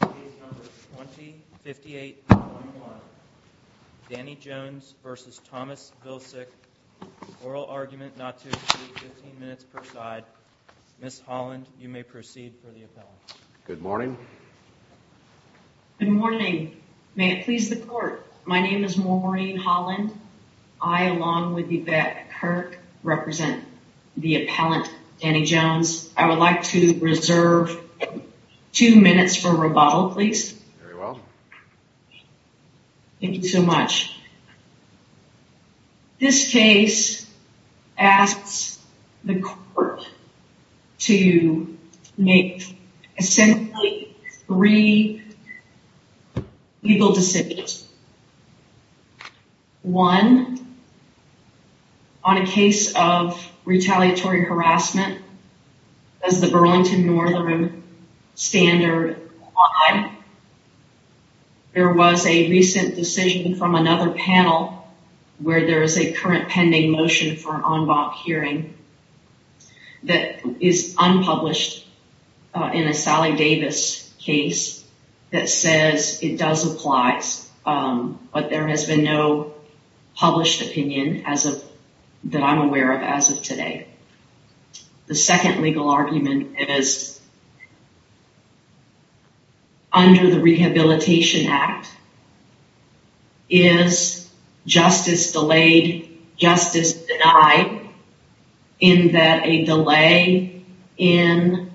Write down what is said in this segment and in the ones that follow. Page number 2058.1. Danny Jones v. Thomas Vilsack. Oral argument not to exceed 15 minutes per side. Ms. Holland, you may proceed for the appellant. Good morning. Good morning. May it please the court. My name is Maureen Holland. I, along with Yvette Kirk, represent the appellant Danny Jones. I would like to reserve two minutes for rebuttal, please. Very well. Thank you so much. This case asks the court to make essentially three legal decisions. One, on a case of retaliatory harassment, as the Burlington Northern Standard there was a recent decision from another panel where there is a current pending motion for an but there has been no published opinion as of that I'm aware of as of today. The second legal argument is under the Rehabilitation Act is justice delayed, justice denied, in that a delay in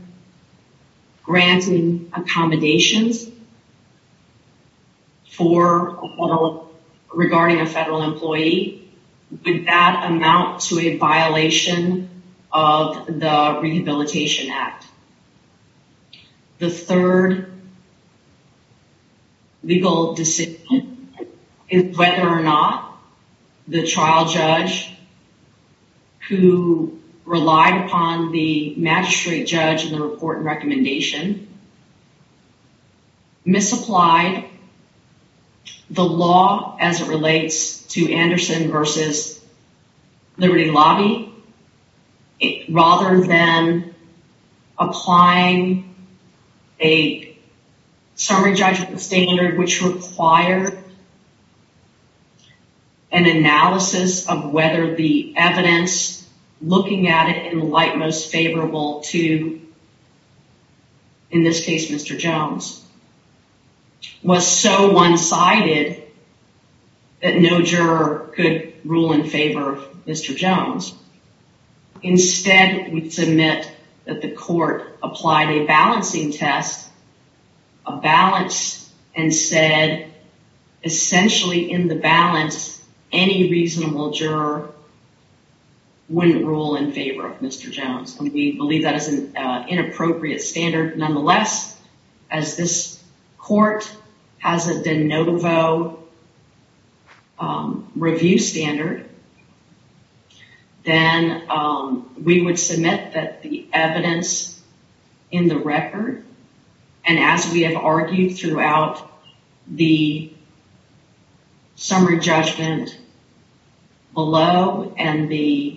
granting accommodations for, regarding a federal employee, would that amount to a violation of the Rehabilitation Act. The third legal decision is whether or not the trial judge who relied upon the magistrate judge in the report and recommendation misapplied the law as it relates to Anderson versus Liberty Lobby rather than applying a summary judgment standard which required an analysis of whether the evidence looking at it in light most favorable to in this case Mr. Jones was so one-sided that no juror could rule in favor of Mr. Jones. Instead, we submit that the court applied a balancing test, a balance, and said essentially in the balance any reasonable juror wouldn't rule in favor of Mr. Jones and we believe that is an inappropriate standard. Nonetheless, as this court has a de novo review standard, then we would submit that the evidence in the record and as we have argued throughout the summary judgment below and the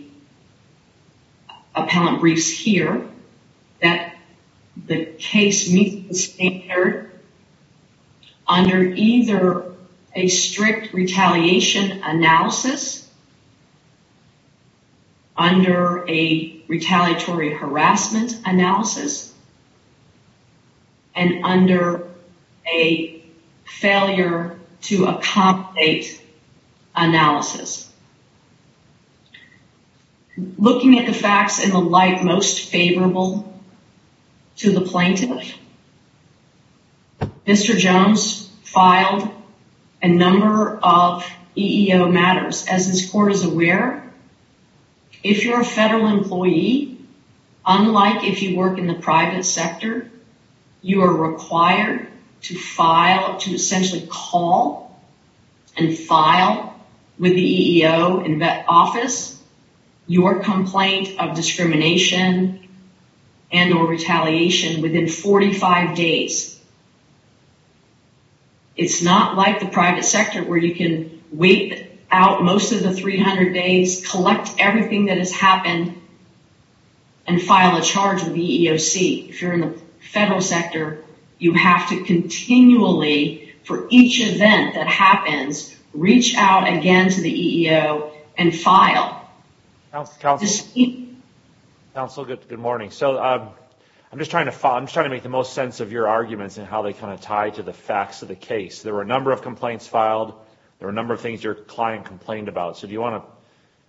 standard under either a strict retaliation analysis, under a retaliatory harassment analysis, and under a failure to accommodate analysis. Looking at the facts in the light most favorable to the plaintiff, Mr. Jones filed a number of EEO matters. As this court is aware, if you're a federal employee, unlike if you work in the private sector, you are required to file, to essentially call and file with the EEO. Office your complaint of discrimination and or retaliation within 45 days. It's not like the private sector where you can wait out most of the 300 days, collect everything that has happened, and file a charge with the EEOC. If you're in the federal sector, you have to continually, for each event that happens, reach out again to the EEO and file. Counsel, good morning. I'm just trying to make the most sense of your arguments and how they kind of tie to the facts of the case. There were a number of complaints filed. There were a number of things your client complained about. Do you want to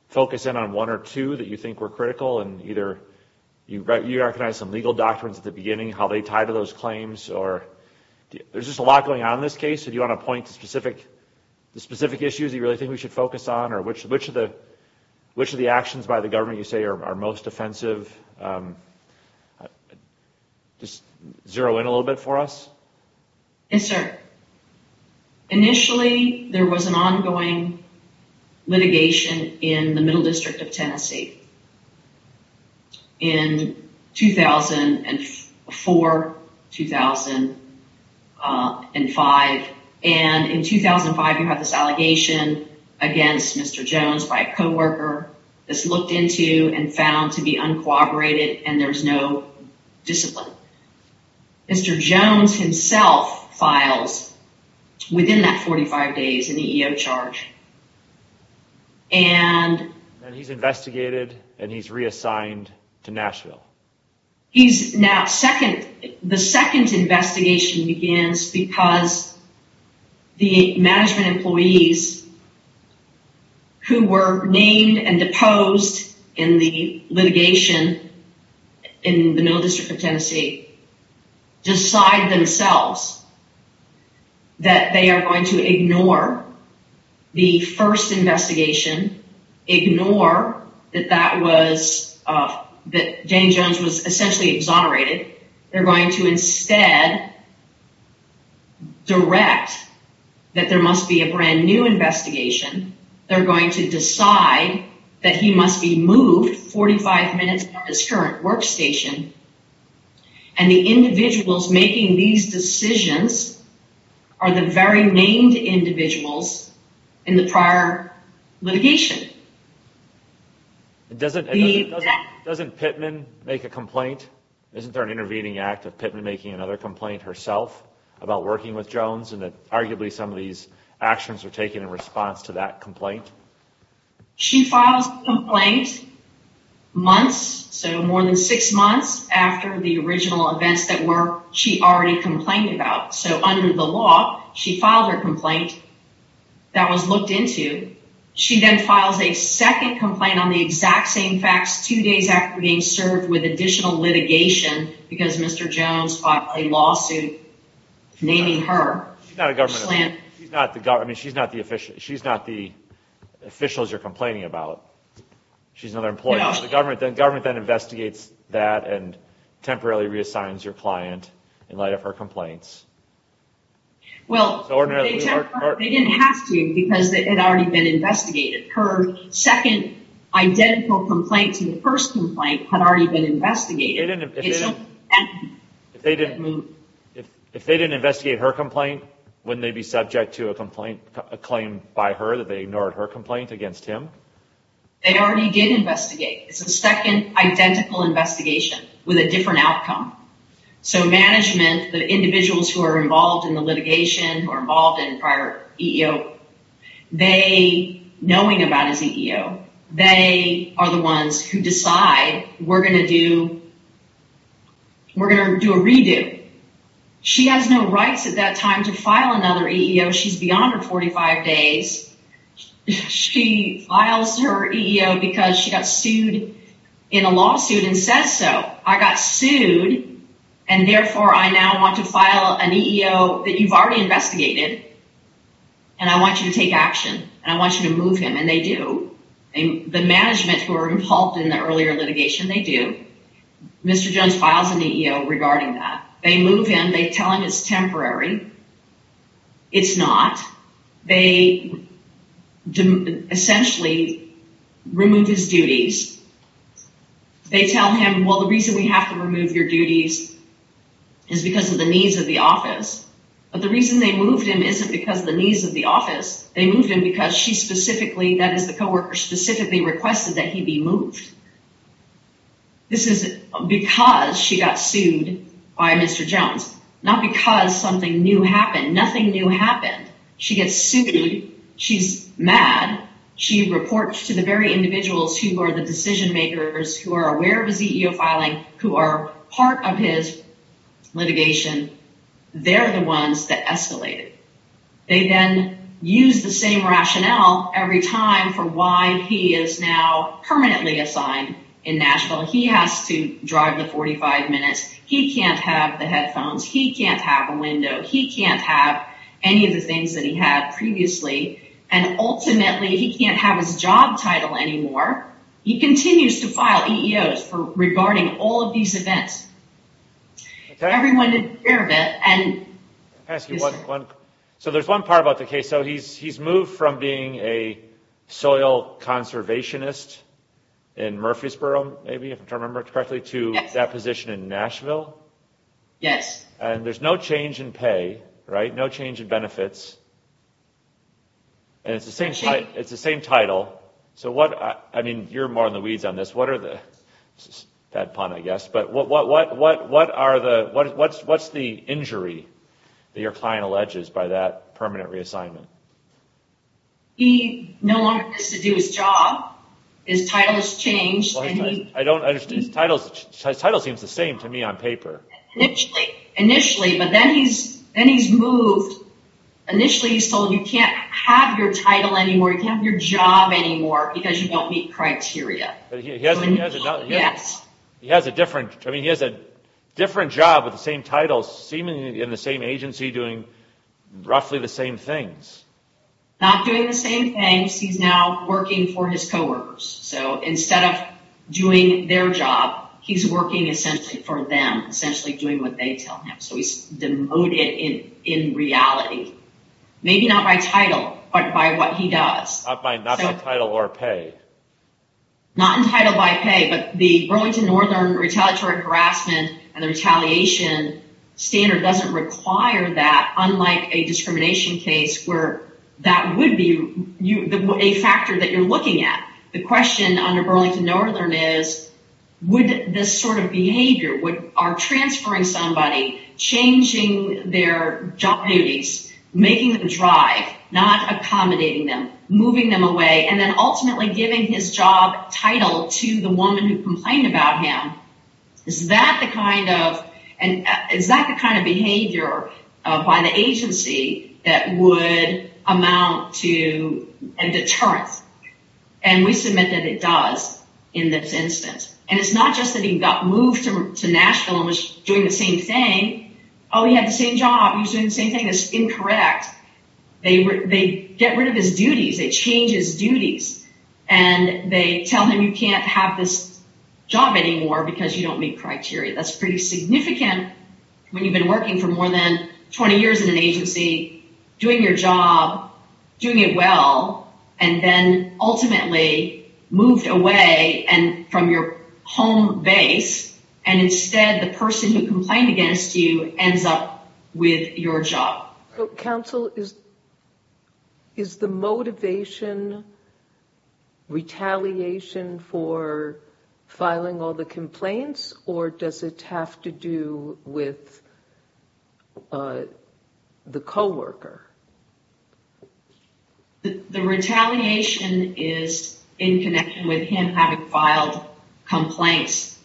focus in on one or two that you think were critical? Either you recognize some legal doctrines at the beginning, how they tie to those claims, or there's just a lot going on in this case. Do you want to point to specific issues you really think we should focus on, or which of the actions by the government you say are most offensive? Just zero in a little bit for us. Yes, sir. Initially, there was an ongoing litigation in the Middle District of Tennessee in 2004, 2005. In 2005, you had this allegation against Mr. Jones by a co-worker that's looked into and found to be uncooperative, and there's no discipline. Mr. Jones himself files, within that 45 days, an EEO charge. He's investigated, and he's reassigned to Nashville. The second investigation begins because the management employees who were named and deposed in the litigation in the Middle District of Tennessee decide themselves that they are going to ignore the first investigation, ignore that that was that Danny Jones was essentially exonerated. They're going to instead direct that there must be a brand new investigation. They're going to decide that he must be moved 45 minutes from his current workstation, and the individuals making these decisions are the very named individuals in the prior litigation. Doesn't Pittman make a complaint? Isn't there an intervening act of Pittman making another complaint herself about working with Jones, and that arguably some of these actions were taken in response to that complaint? She files the complaint months, so more than six months after the original events that were she already complained about. So under the law, she filed her complaint that was looked into. She then files a second complaint on the exact same facts two days after being served with additional litigation because Mr. Jones fought a lawsuit naming her. She's not the government. I mean, she's not the official. She's not the officials you're complaining about. She's another employee. The government then investigates that and temporarily reassigns your client in light of her complaints. Well, they didn't have to because it had already been investigated. Her second identical complaint to the first complaint had already been investigated. If they didn't investigate her complaint, wouldn't they be subject to a complaint, a claim by her that they ignored her complaint against him? They already did investigate. It's a second identical investigation with a different outcome. So management, the individuals who are involved in the litigation, who are involved in prior EEO, they, knowing about his EEO, they are the ones who decide we're going to do, we're going to do a redo. She has no rights at that time to file another EEO. She's beyond her days. She files her EEO because she got sued in a lawsuit and says so. I got sued and therefore I now want to file an EEO that you've already investigated and I want you to take action and I want you to move him. And they do. The management who are involved in the earlier litigation, they do. Mr. Jones files an EEO regarding that. They move him. They tell him it's temporary. It's not. They essentially remove his duties. They tell him, well, the reason we have to remove your duties is because of the needs of the office. But the reason they moved him isn't because of the needs of the office. They moved him because she specifically, that is the co-worker, specifically requested that he be moved. This is because she got sued by Mr. Jones. Not because something new happened. Nothing new happened. She gets sued. She's mad. She reports to the very individuals who are the decision makers, who are aware of his EEO filing, who are part of his litigation. They're the ones that escalate it. They then use the same rationale every time for why he is now permanently assigned in Nashville. He has to drive the 45 minutes. He can't have the headphones. He can't have a window. He can't have any of the things that he had previously. And ultimately, he can't have his job title anymore. He continues to file EEOs regarding all of these events. Everyone is aware of it. So there's one part about the case. So he's moved from being a soil conservationist in Murfreesboro, maybe, if I remember correctly, to that position in Nashville? Yes. And there's no change in pay, right? No change in benefits. And it's the same title. So what, I mean, you're more in the weeds on this. What are the, bad pun, I guess. But what's the injury that your client alleges by that permanent reassignment? He no longer has to do his job. His title has changed. His title seems the same to me on paper. Initially, but then he's moved. Initially, he's told you can't have your title anymore. You can't have your job anymore because you don't meet criteria. He has a different job with the same seemingly in the same agency doing roughly the same things. Not doing the same things. He's now working for his coworkers. So instead of doing their job, he's working essentially for them, essentially doing what they tell him. So he's demoted in reality. Maybe not by title, but by what he does. Not by title or pay. Not entitled by pay, but the Burlington Northern retaliatory harassment and the retaliation standard doesn't require that, unlike a discrimination case where that would be a factor that you're looking at. The question under Burlington Northern is, would this sort of behavior, are transferring somebody, changing their job duties, making them drive, not accommodating them, moving them away, and then ultimately giving his job title to the woman who complained about him, is that the kind of behavior by the agency that would amount to a deterrence? And we submit that it does in this instance. And it's not just that he got moved to Nashville and was doing the same thing. Oh, he had the same job. He was doing the same thing. That's incorrect. They get rid of his duties. They change his job. And you can't have this job anymore because you don't meet criteria. That's pretty significant when you've been working for more than 20 years in an agency, doing your job, doing it well, and then ultimately moved away from your home base and instead the person who complained against you for filing all the complaints or does it have to do with the co-worker? The retaliation is in connection with him having filed complaints.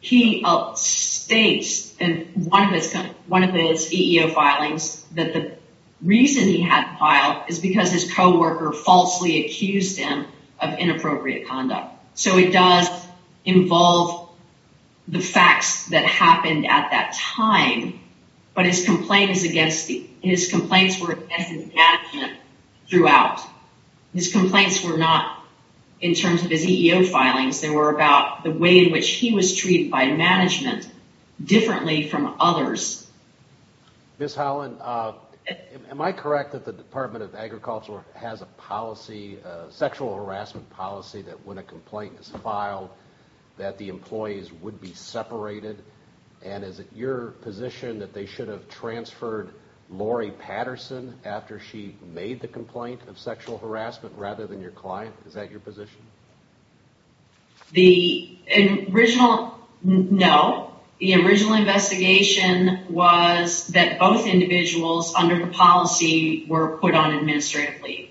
He states in one of his EEO filings that the reason he hadn't filed is because his co-worker falsely accused him of inappropriate conduct. So it does involve the facts that happened at that time, but his complaints were against his management throughout. His complaints were not in terms of his EEO filings. They were about the way in which he was treated by management differently from others. Ms. Holland, am I correct that the Department of Agriculture has a policy, a sexual harassment policy, that when a complaint is filed that the employees would be separated? And is it your position that they should have transferred Lori Patterson after she made the complaint of sexual harassment rather than your client? Is that your position? No. The original investigation was that both individuals under the policy were put on administrative leave.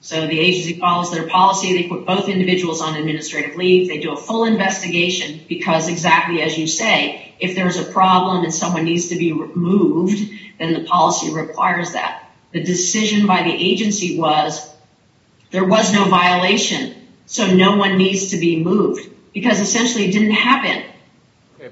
So the agency follows their policy. They put both individuals on administrative leave. They do a full investigation because exactly as you say, if there's a problem and someone needs to be removed, then the policy requires that. The decision by the agency was there was no violation. So no one needs to be moved because essentially it didn't happen.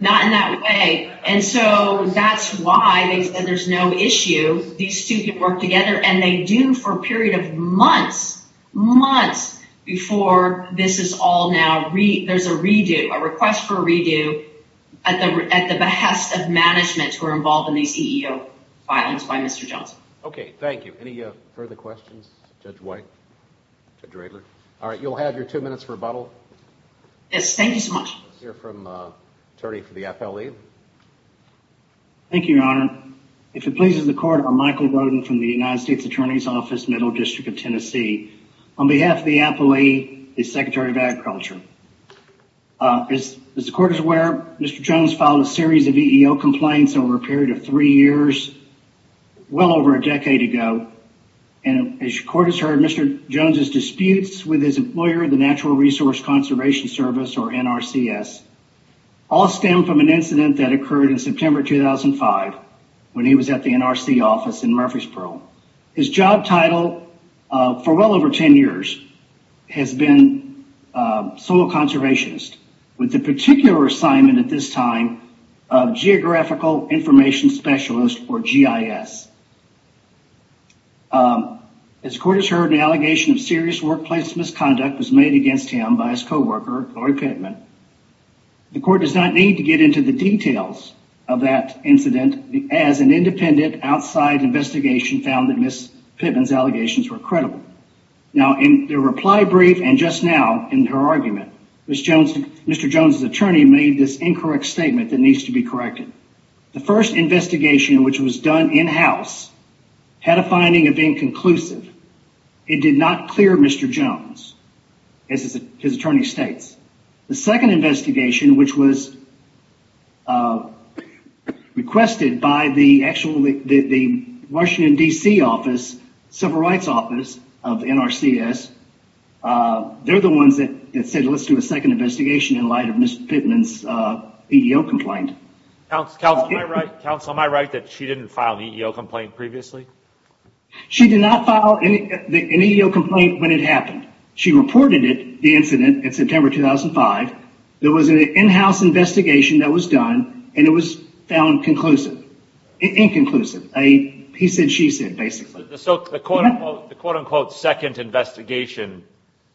Not in that way. And so that's why they said there's no issue. These two can work together and they do for a period of months, months before this is all now, there's a redo, a request for a redo at the behest of management who are involved in these EEO filings by Mr. Johnson. Okay. Thank you. Any further questions? Judge White? Judge Raebler? All right. You'll have your two minutes for rebuttal. Yes. Thank you so much. Let's hear from the attorney for the FLE. Thank you, Your Honor. If it pleases the court, I'm Michael Roden from the United States Attorney's Office, Middle District of Tennessee. On behalf of the FLE, the Secretary of Agriculture. As the court is aware, Mr. Jones filed a series of EEO complaints over a period of three years, well over a decade ago. And as your court has heard, Mr. Jones's disputes with his employer, the Natural Resource Conservation Service, or NRCS, all stem from an incident that occurred in September 2005 when he was at the NRC office in Murfreesboro. His job title for well over 10 years has been a soil conservationist with the particular assignment at this time of Geographical Information Specialist, or GIS. As the court has heard, an allegation of serious workplace misconduct was made against him by his co-worker, Lori Pittman. The court does not need to get into the details of that incident, as an independent outside investigation found that Ms. Pittman's allegations were credible. Now, in the reply brief and just now in her argument, Mr. Jones's attorney made this incorrect statement that needs to be corrected. The first investigation, which was done in-house, had a finding of inconclusive. It did not clear Mr. Jones, as his attorney states. The second investigation, which was requested by the Washington, D.C., civil rights office of NRCS, they're the ones that said let's do a second investigation in light of Ms. Pittman's EEO complaint. Counsel, am I right that she didn't file an EEO complaint previously? She did not file an EEO complaint when it happened. She reported it, the incident, in September 2005. There was an in-house investigation that was done, and it was found inconclusive. He said, she said, basically. The quote-unquote second investigation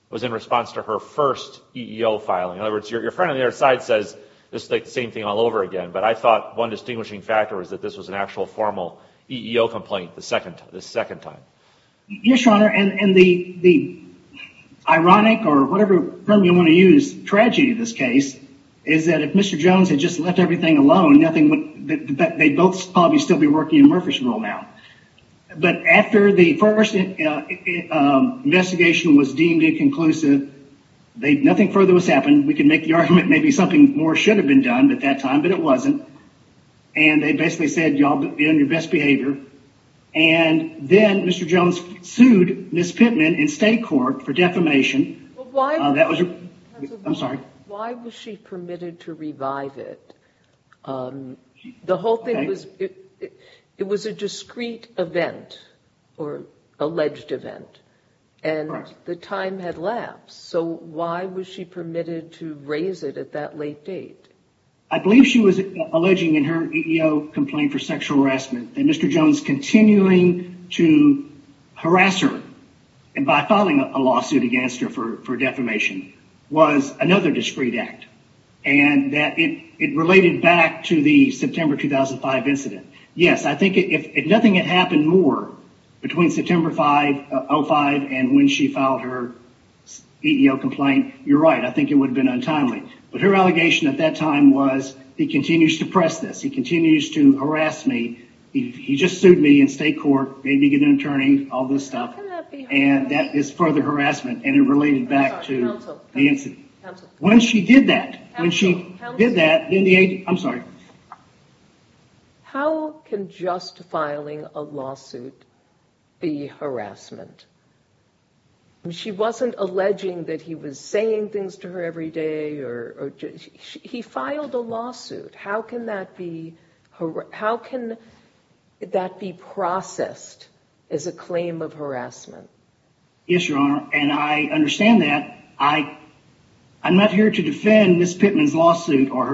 was in response to her first EEO filing. In other words, your friend on the other side says, this is like the same thing all over again, but I thought one distinguishing factor was that this was an actual formal EEO complaint the second time. Yes, your honor, and the ironic, or whatever term you want to use, tragedy of this case, is that if Mr. Jones had just left everything alone, nothing would, they'd both probably still be working in Murphy's role now. But after the first investigation was deemed inconclusive, nothing further has happened. We can make the argument maybe something more should have been done at that time, but it wasn't, and they basically said, y'all be on your best behavior, and then Mr. Jones sued Ms. Pittman in state court for defamation. That was, I'm sorry. Why was she permitted to revive it? The whole thing was, it was a discrete event, or alleged event, and the time had lapsed, so why was she permitted to raise it at that late date? I believe she was alleging in her EEO complaint for sexual harassment that Mr. Jones continuing to harass her, and by filing a lawsuit against her for defamation, was another discrete act, and that it related back to the September 2005 incident. Yes, I think if nothing had happened more between September 5, 05, and when she filed her EEO complaint, you're right, I think it would have been untimely, but her allegation at that time was, he continues to press this, he continues to harass me, he just sued me in state court, made me get an attorney, all this stuff, and that is further harassment, and it related back to the incident. When she did that, when she did that, I'm sorry. How can just filing a lawsuit be harassment? She wasn't alleging that he was saying things to her every day, or he filed a lawsuit, how can that be processed as a claim of harassment? Yes, your honor, and I understand that. I'm not here to defend Ms. Pittman's lawsuit, or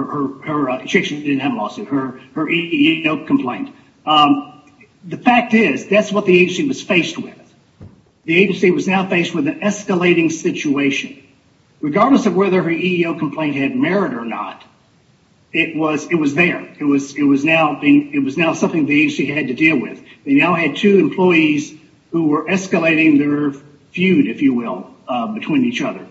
her, she didn't have a lawsuit, her EEO complaint. The fact is, that's what the agency was faced with. The agency was now faced with an escalating situation. Regardless of whether her EEO complaint had merit or not, it was there. It was now being, it was they now had two employees who were escalating their feud, if you will, between each other.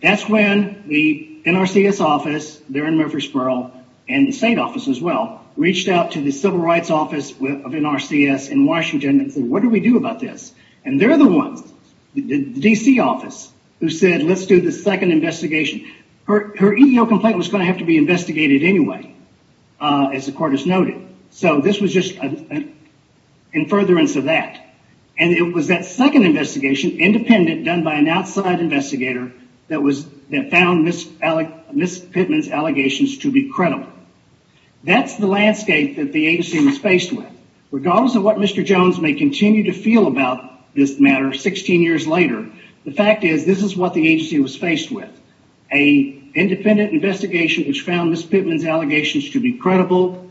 That's when the NRCS office, they're in Murfreesboro, and the state office as well, reached out to the Civil Rights Office of NRCS in Washington and said, what do we do about this? And they're the ones, the DC office, who said, let's do the second investigation. Her EEO complaint was going to have to be investigated anyway, as the court has noted. So this was just in furtherance of that. And it was that second investigation, independent, done by an outside investigator, that was, that found Ms. Pittman's allegations to be credible. That's the landscape that the agency was faced with. Regardless of what Mr. Jones may continue to feel about this matter 16 years later, the fact is, this is what the agency was faced with. A independent investigation, which found Ms. Pittman's allegations to be credible,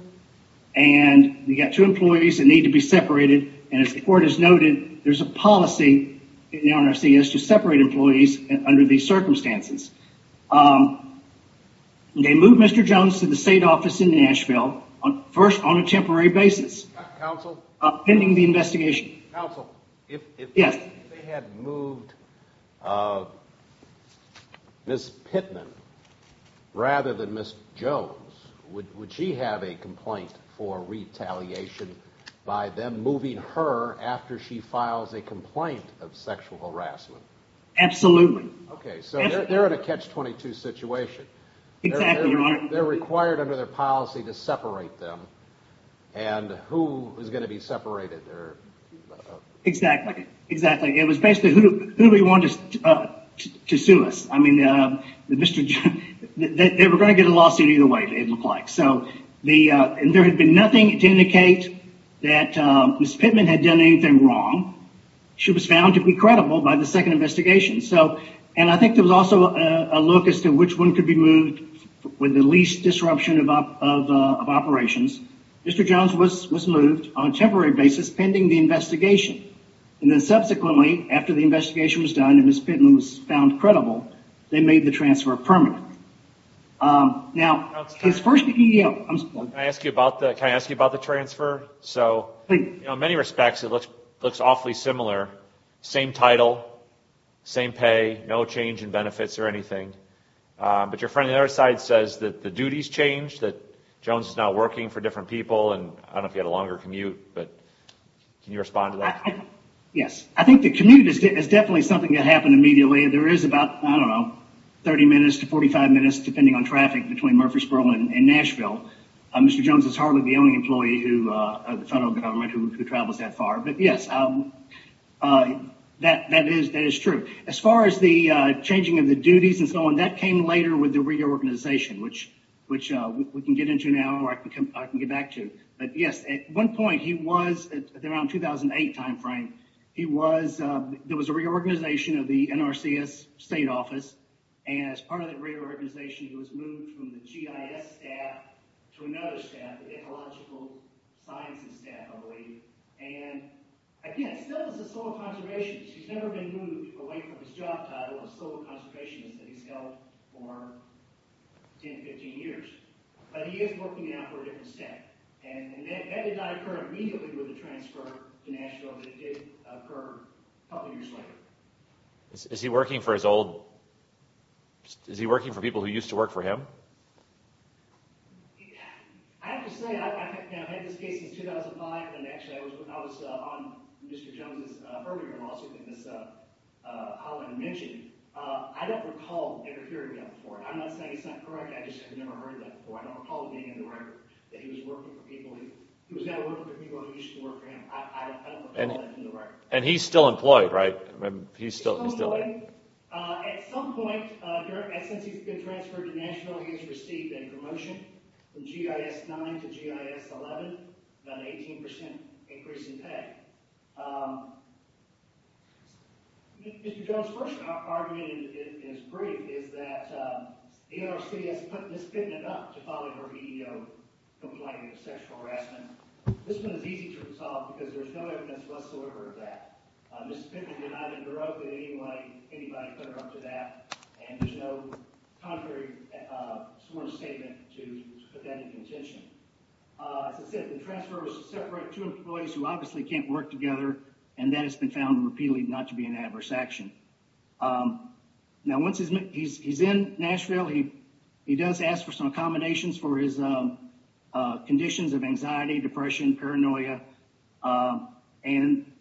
and you got two employees that need to be separated, and as the court has noted, there's a policy in NRCS to separate employees under these circumstances. They moved Mr. Jones to the state office in Nashville, first on a temporary basis, pending the investigation. Counsel, if they had moved Ms. Pittman rather than Ms. Jones, would she have a complaint for retaliation by them moving her after she files a complaint of sexual harassment? Absolutely. Okay, so they're in a catch-22 situation. Exactly, Your Honor. They're required under their policy to separate them, and who is going to be separated? Exactly, exactly. It was basically, who do we want to sue us? I mean, they were going to get a lawsuit either way, it looked like. So, there had been nothing to indicate that Ms. Pittman had done anything wrong. She was found to be credible by the second investigation, and I think there was also a look as to which one could be moved with the least disruption of operations. Mr. Jones was moved on a temporary basis, pending the investigation. And then subsequently, after the investigation was done and Ms. Pittman was found credible, they made the transfer permanent. Can I ask you about the transfer? In many respects, it looks awfully similar. Same title, same pay, no change in benefits or anything. But your friend on the other side says that the duties changed, that Jones is now working for different people, and I don't know if he had a longer commute, but can you respond to that? Yes, I think the commute is definitely something that happened immediately. There is about, I don't know, 30 minutes to 45 minutes, depending on traffic, between Murfreesboro and Nashville. Mr. Jones is hardly the only employee of the federal government who travels that far. But yes, that is true. As far as the changing of the duties and so on, that came later with the reorganization, which we can get into now, or I can get back to. But yes, at one point, he was, around the 2008 time frame, he was, there was a reorganization of the NRCS state office, and as part of the reorganization, he was moved from the GIS staff to another staff, the Ecological Sciences staff, I believe. And again, still as a Soil Conservationist, he's never been moved away from his job title of Soil Conservationist that he's held for 10-15 years. But he is working now for a different staff, and that did not occur immediately with the transfer to Nashville, but it did occur a couple years later. Is he working for his old, is he working for people who used to work for him? I have to say, I've had this case since 2005, and actually I was on Mr. Jones's earlier lawsuit that I want to mention. I don't recall ever hearing that before, and I'm not saying it's not correct, I just have never heard that before. I don't recall it being in the record that he was working for people, he was never working for people who used to work for him. I don't recall that in the record. And he's still employed, right? He's still employed. At some point, since he's been transferred to Nashville, he has received a promotion from GIS 9 to GIS 11, about an 18% increase in pay. Mr. Jones's first argument in his brief is that the NRC has put Ms. Pittman up to file her EEO complaint of sexual harassment. This one is easy to resolve because there's no evidence whatsoever of that. Ms. Pittman did not interrupt in any way anybody put her up to that, and there's no contrary sworn statement to put that in contention. As I said, the transfer was separate, two employees who obviously can't work together, and that has been found repeatedly not to be an adverse action. Now, once he's in Nashville, he does ask for some accommodations for his conditions of anxiety, depression, paranoia, and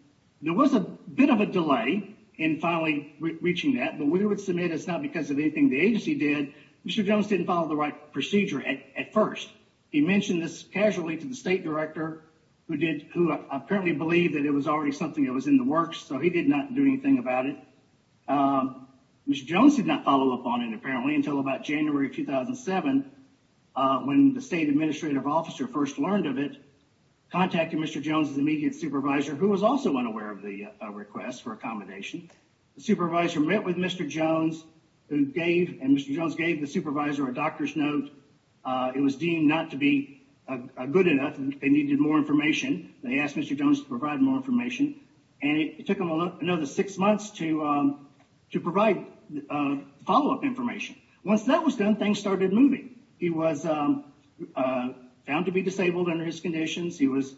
there was a bit of a delay in finally reaching that, but we would submit it's not because of anything the agency did. Mr. Jones didn't follow the right procedure at first. He mentioned this casually to the state director, who apparently believed that it was already something that was in the works, so he did not do anything about it. Mr. Jones did not follow up on it apparently until about January of 2007 when the state administrative officer first learned of it, contacted Mr. Jones's immediate supervisor, who was also unaware of the request for accommodation. The supervisor met with Mr. Jones, and Mr. Jones gave the supervisor a doctor's note. It was deemed not to be good enough. They needed more information. They asked Mr. Jones to provide more information, and it took him another six months to provide follow-up information. Once that was done, things started moving. He was found to be disabled under his conditions. He was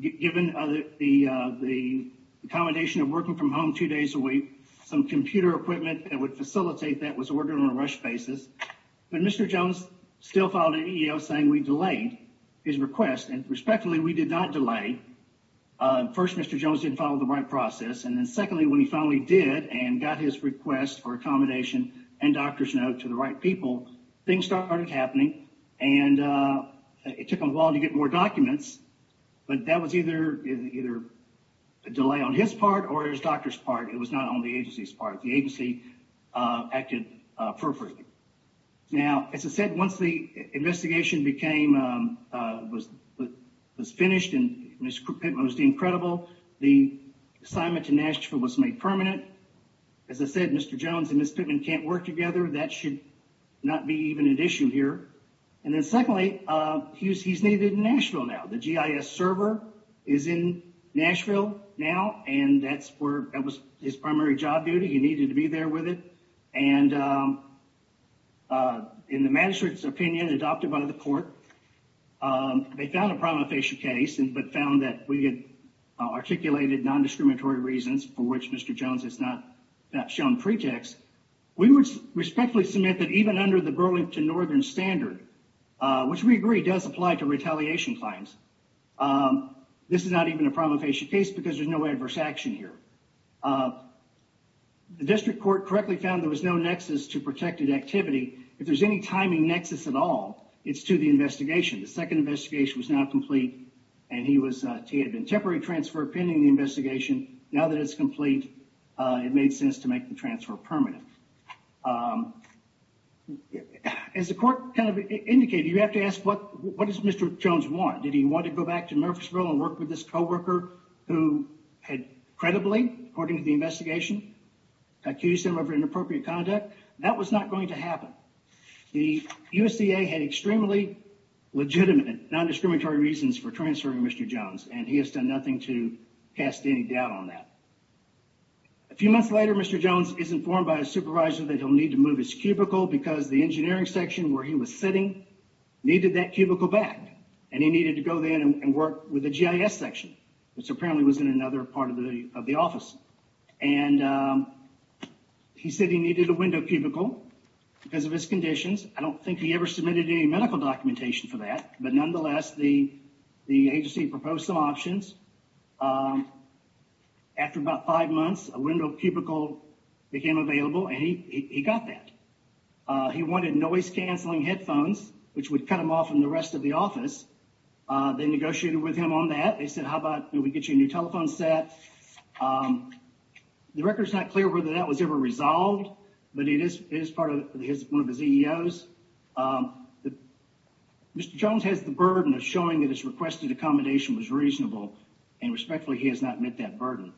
given the accommodation of working from home two days a week. Some computer equipment that would facilitate that was ordered on a rush basis, but Mr. Jones still filed an EEO saying we delayed his request. Respectfully, we did not delay. First, Mr. Jones didn't follow the right process, and then secondly, when he finally did and got his request for accommodation and doctor's note to the right people, things started happening. It took him a while to get more documents, but that was either a delay on his part or his doctor's part. It was not on the agency's part. The agency acted appropriately. Now, as I said, once the investigation was finished and Ms. Pitman was deemed credible, the assignment to Nashville was made permanent. As I said, Mr. Jones and Ms. Pitman can't work together. That should not be even an issue here. Secondly, he's needed in Nashville now. The GIS server is in Nashville now, and that was his primary job duty. He needed to be there with it. In the magistrate's opinion adopted by the court, they found a prima facie case, but found that we had articulated non-discriminatory reasons for which Mr. Jones has not shown pretext. We would respectfully submit that even under the Burlington Northern Standard, which we agree does apply to retaliation claims, this is not even a prima facie case because there's no adverse action here. The district court correctly found there was no nexus to protected activity. If there's any timing nexus at all, it's to the investigation. The second investigation was not complete, and he had been temporary transferred pending the investigation. Now that it's complete, it made sense to make the transfer permanent. As the court kind of indicated, you have to ask what does Mr. Jones want? Did he want to go back and work with this co-worker who had credibly, according to the investigation, accused him of inappropriate conduct? That was not going to happen. The USDA had extremely legitimate non-discriminatory reasons for transferring Mr. Jones, and he has done nothing to cast any doubt on that. A few months later, Mr. Jones is informed by his supervisor that he'll need to move his cubicle because the engineering section where he was sitting needed that cubicle back, and he needed to go there and work with the GIS section, which apparently was in another part of the office. He said he needed a window cubicle because of his conditions. I don't think he ever submitted any medical documentation for that, but nonetheless, the agency proposed some options. After about five months, a window cubicle became available, and he got that. He wanted noise-canceling headphones, which would cut him off from the rest of the office. They negotiated with him on that. They said, how about we get you a new telephone set? The record is not clear whether that was ever resolved, but it is part of one of the CEOs. Mr. Jones has the burden of showing that his requested accommodation was reasonable, and respectfully, he has not met that burden.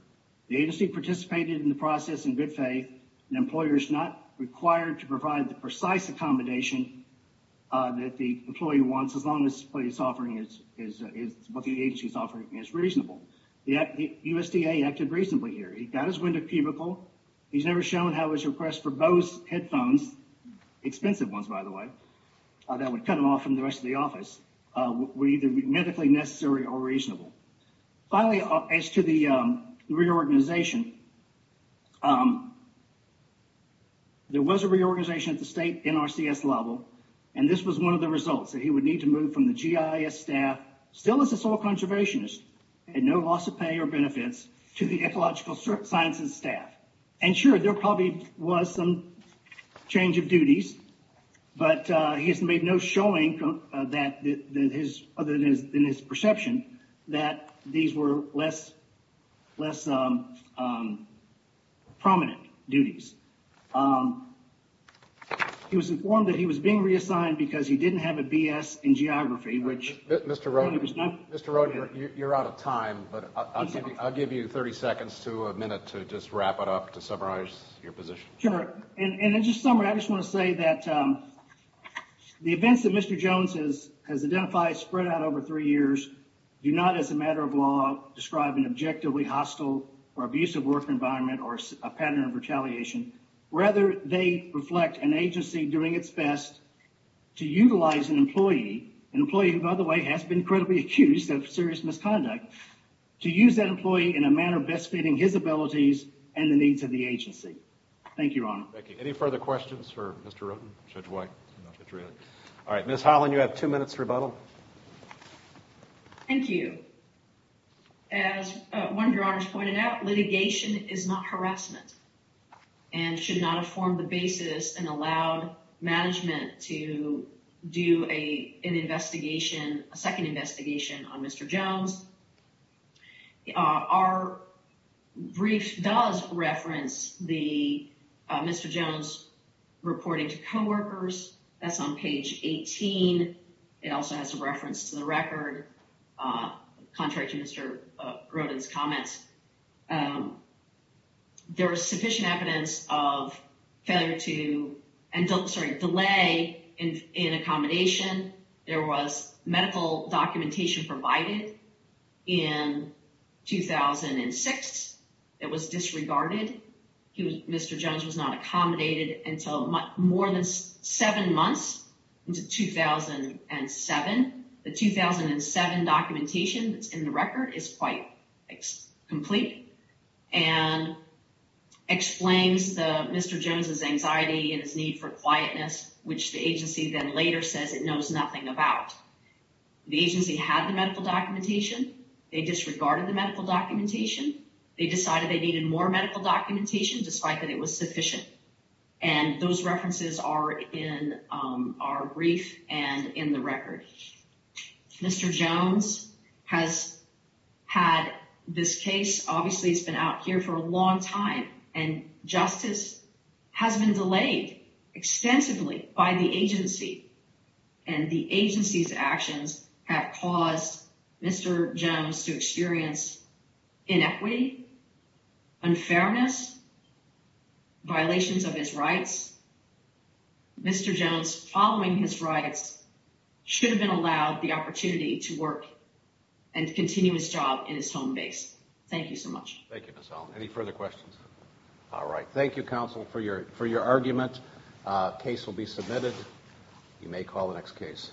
The agency participated in the process in good faith, and employers are not required to provide the precise accommodation that the employee wants, as long as what the agency is offering is reasonable. The USDA acted reasonably here. He got his window cubicle. He's never shown how his request for Bose headphones, expensive ones, by the way, that would cut him off from the rest of the office, were either medically necessary or reasonable. Finally, as to the reorganization, there was a reorganization at the state NRCS level. This was one of the results that he would need to move from the GIS staff, still as a soil conservationist, at no loss of pay or benefits, to the ecological sciences staff. Sure, there probably was some change of duties, but he has made no showing, other than his perception, that these were less prominent duties. He was informed that he was being reassigned because he didn't have a BS in geography, which... Mr. Rode, you're out of time, but I'll give you 30 seconds to a minute to just want to say that the events that Mr. Jones has identified spread out over three years do not, as a matter of law, describe an objectively hostile or abusive work environment or a pattern of retaliation. Rather, they reflect an agency doing its best to utilize an employee, an employee who, by the way, has been credibly accused of serious misconduct, to use that employee in a manner best fitting his abilities and the needs of the agency. Thank you, Your Honor. Thank you. Any further questions for Mr. Rode, Judge White? All right, Ms. Holland, you have two minutes to rebuttal. Thank you. As one of your honors pointed out, litigation is not harassment and should not have formed the basis and allowed management to do a second investigation on Mr. Jones. Our brief does reference Mr. Jones reporting to co-workers. That's on page 18. It also has a reference to the record, contrary to Mr. Rode's comments. There is sufficient evidence of failure and delay in accommodation. There was medical documentation provided in 2006 that was disregarded. Mr. Jones was not accommodated until more than seven months into 2007. The 2007 documentation that's in the record is quite complete and explains Mr. Jones' anxiety and his need for quietness, which the agency then later says it knows nothing about. The agency had the medical documentation. They disregarded the medical documentation. They decided they needed more medical documentation, despite that it was sufficient. Those references are in our brief and in the record. Mr. Jones has had this case. Obviously, he's been out here for a long time, and justice has been delayed extensively by the agency. The agency's actions have caused Mr. Jones to experience inequity, unfairness, violations of his rights. Mr. Jones, following his rights, should have been allowed the opportunity to work and continue his job in his home base. Thank you so much. Thank you, Ms. Allen. Any further questions? All right. Thank you, counsel, for your argument. The case will be submitted. You may call the next case.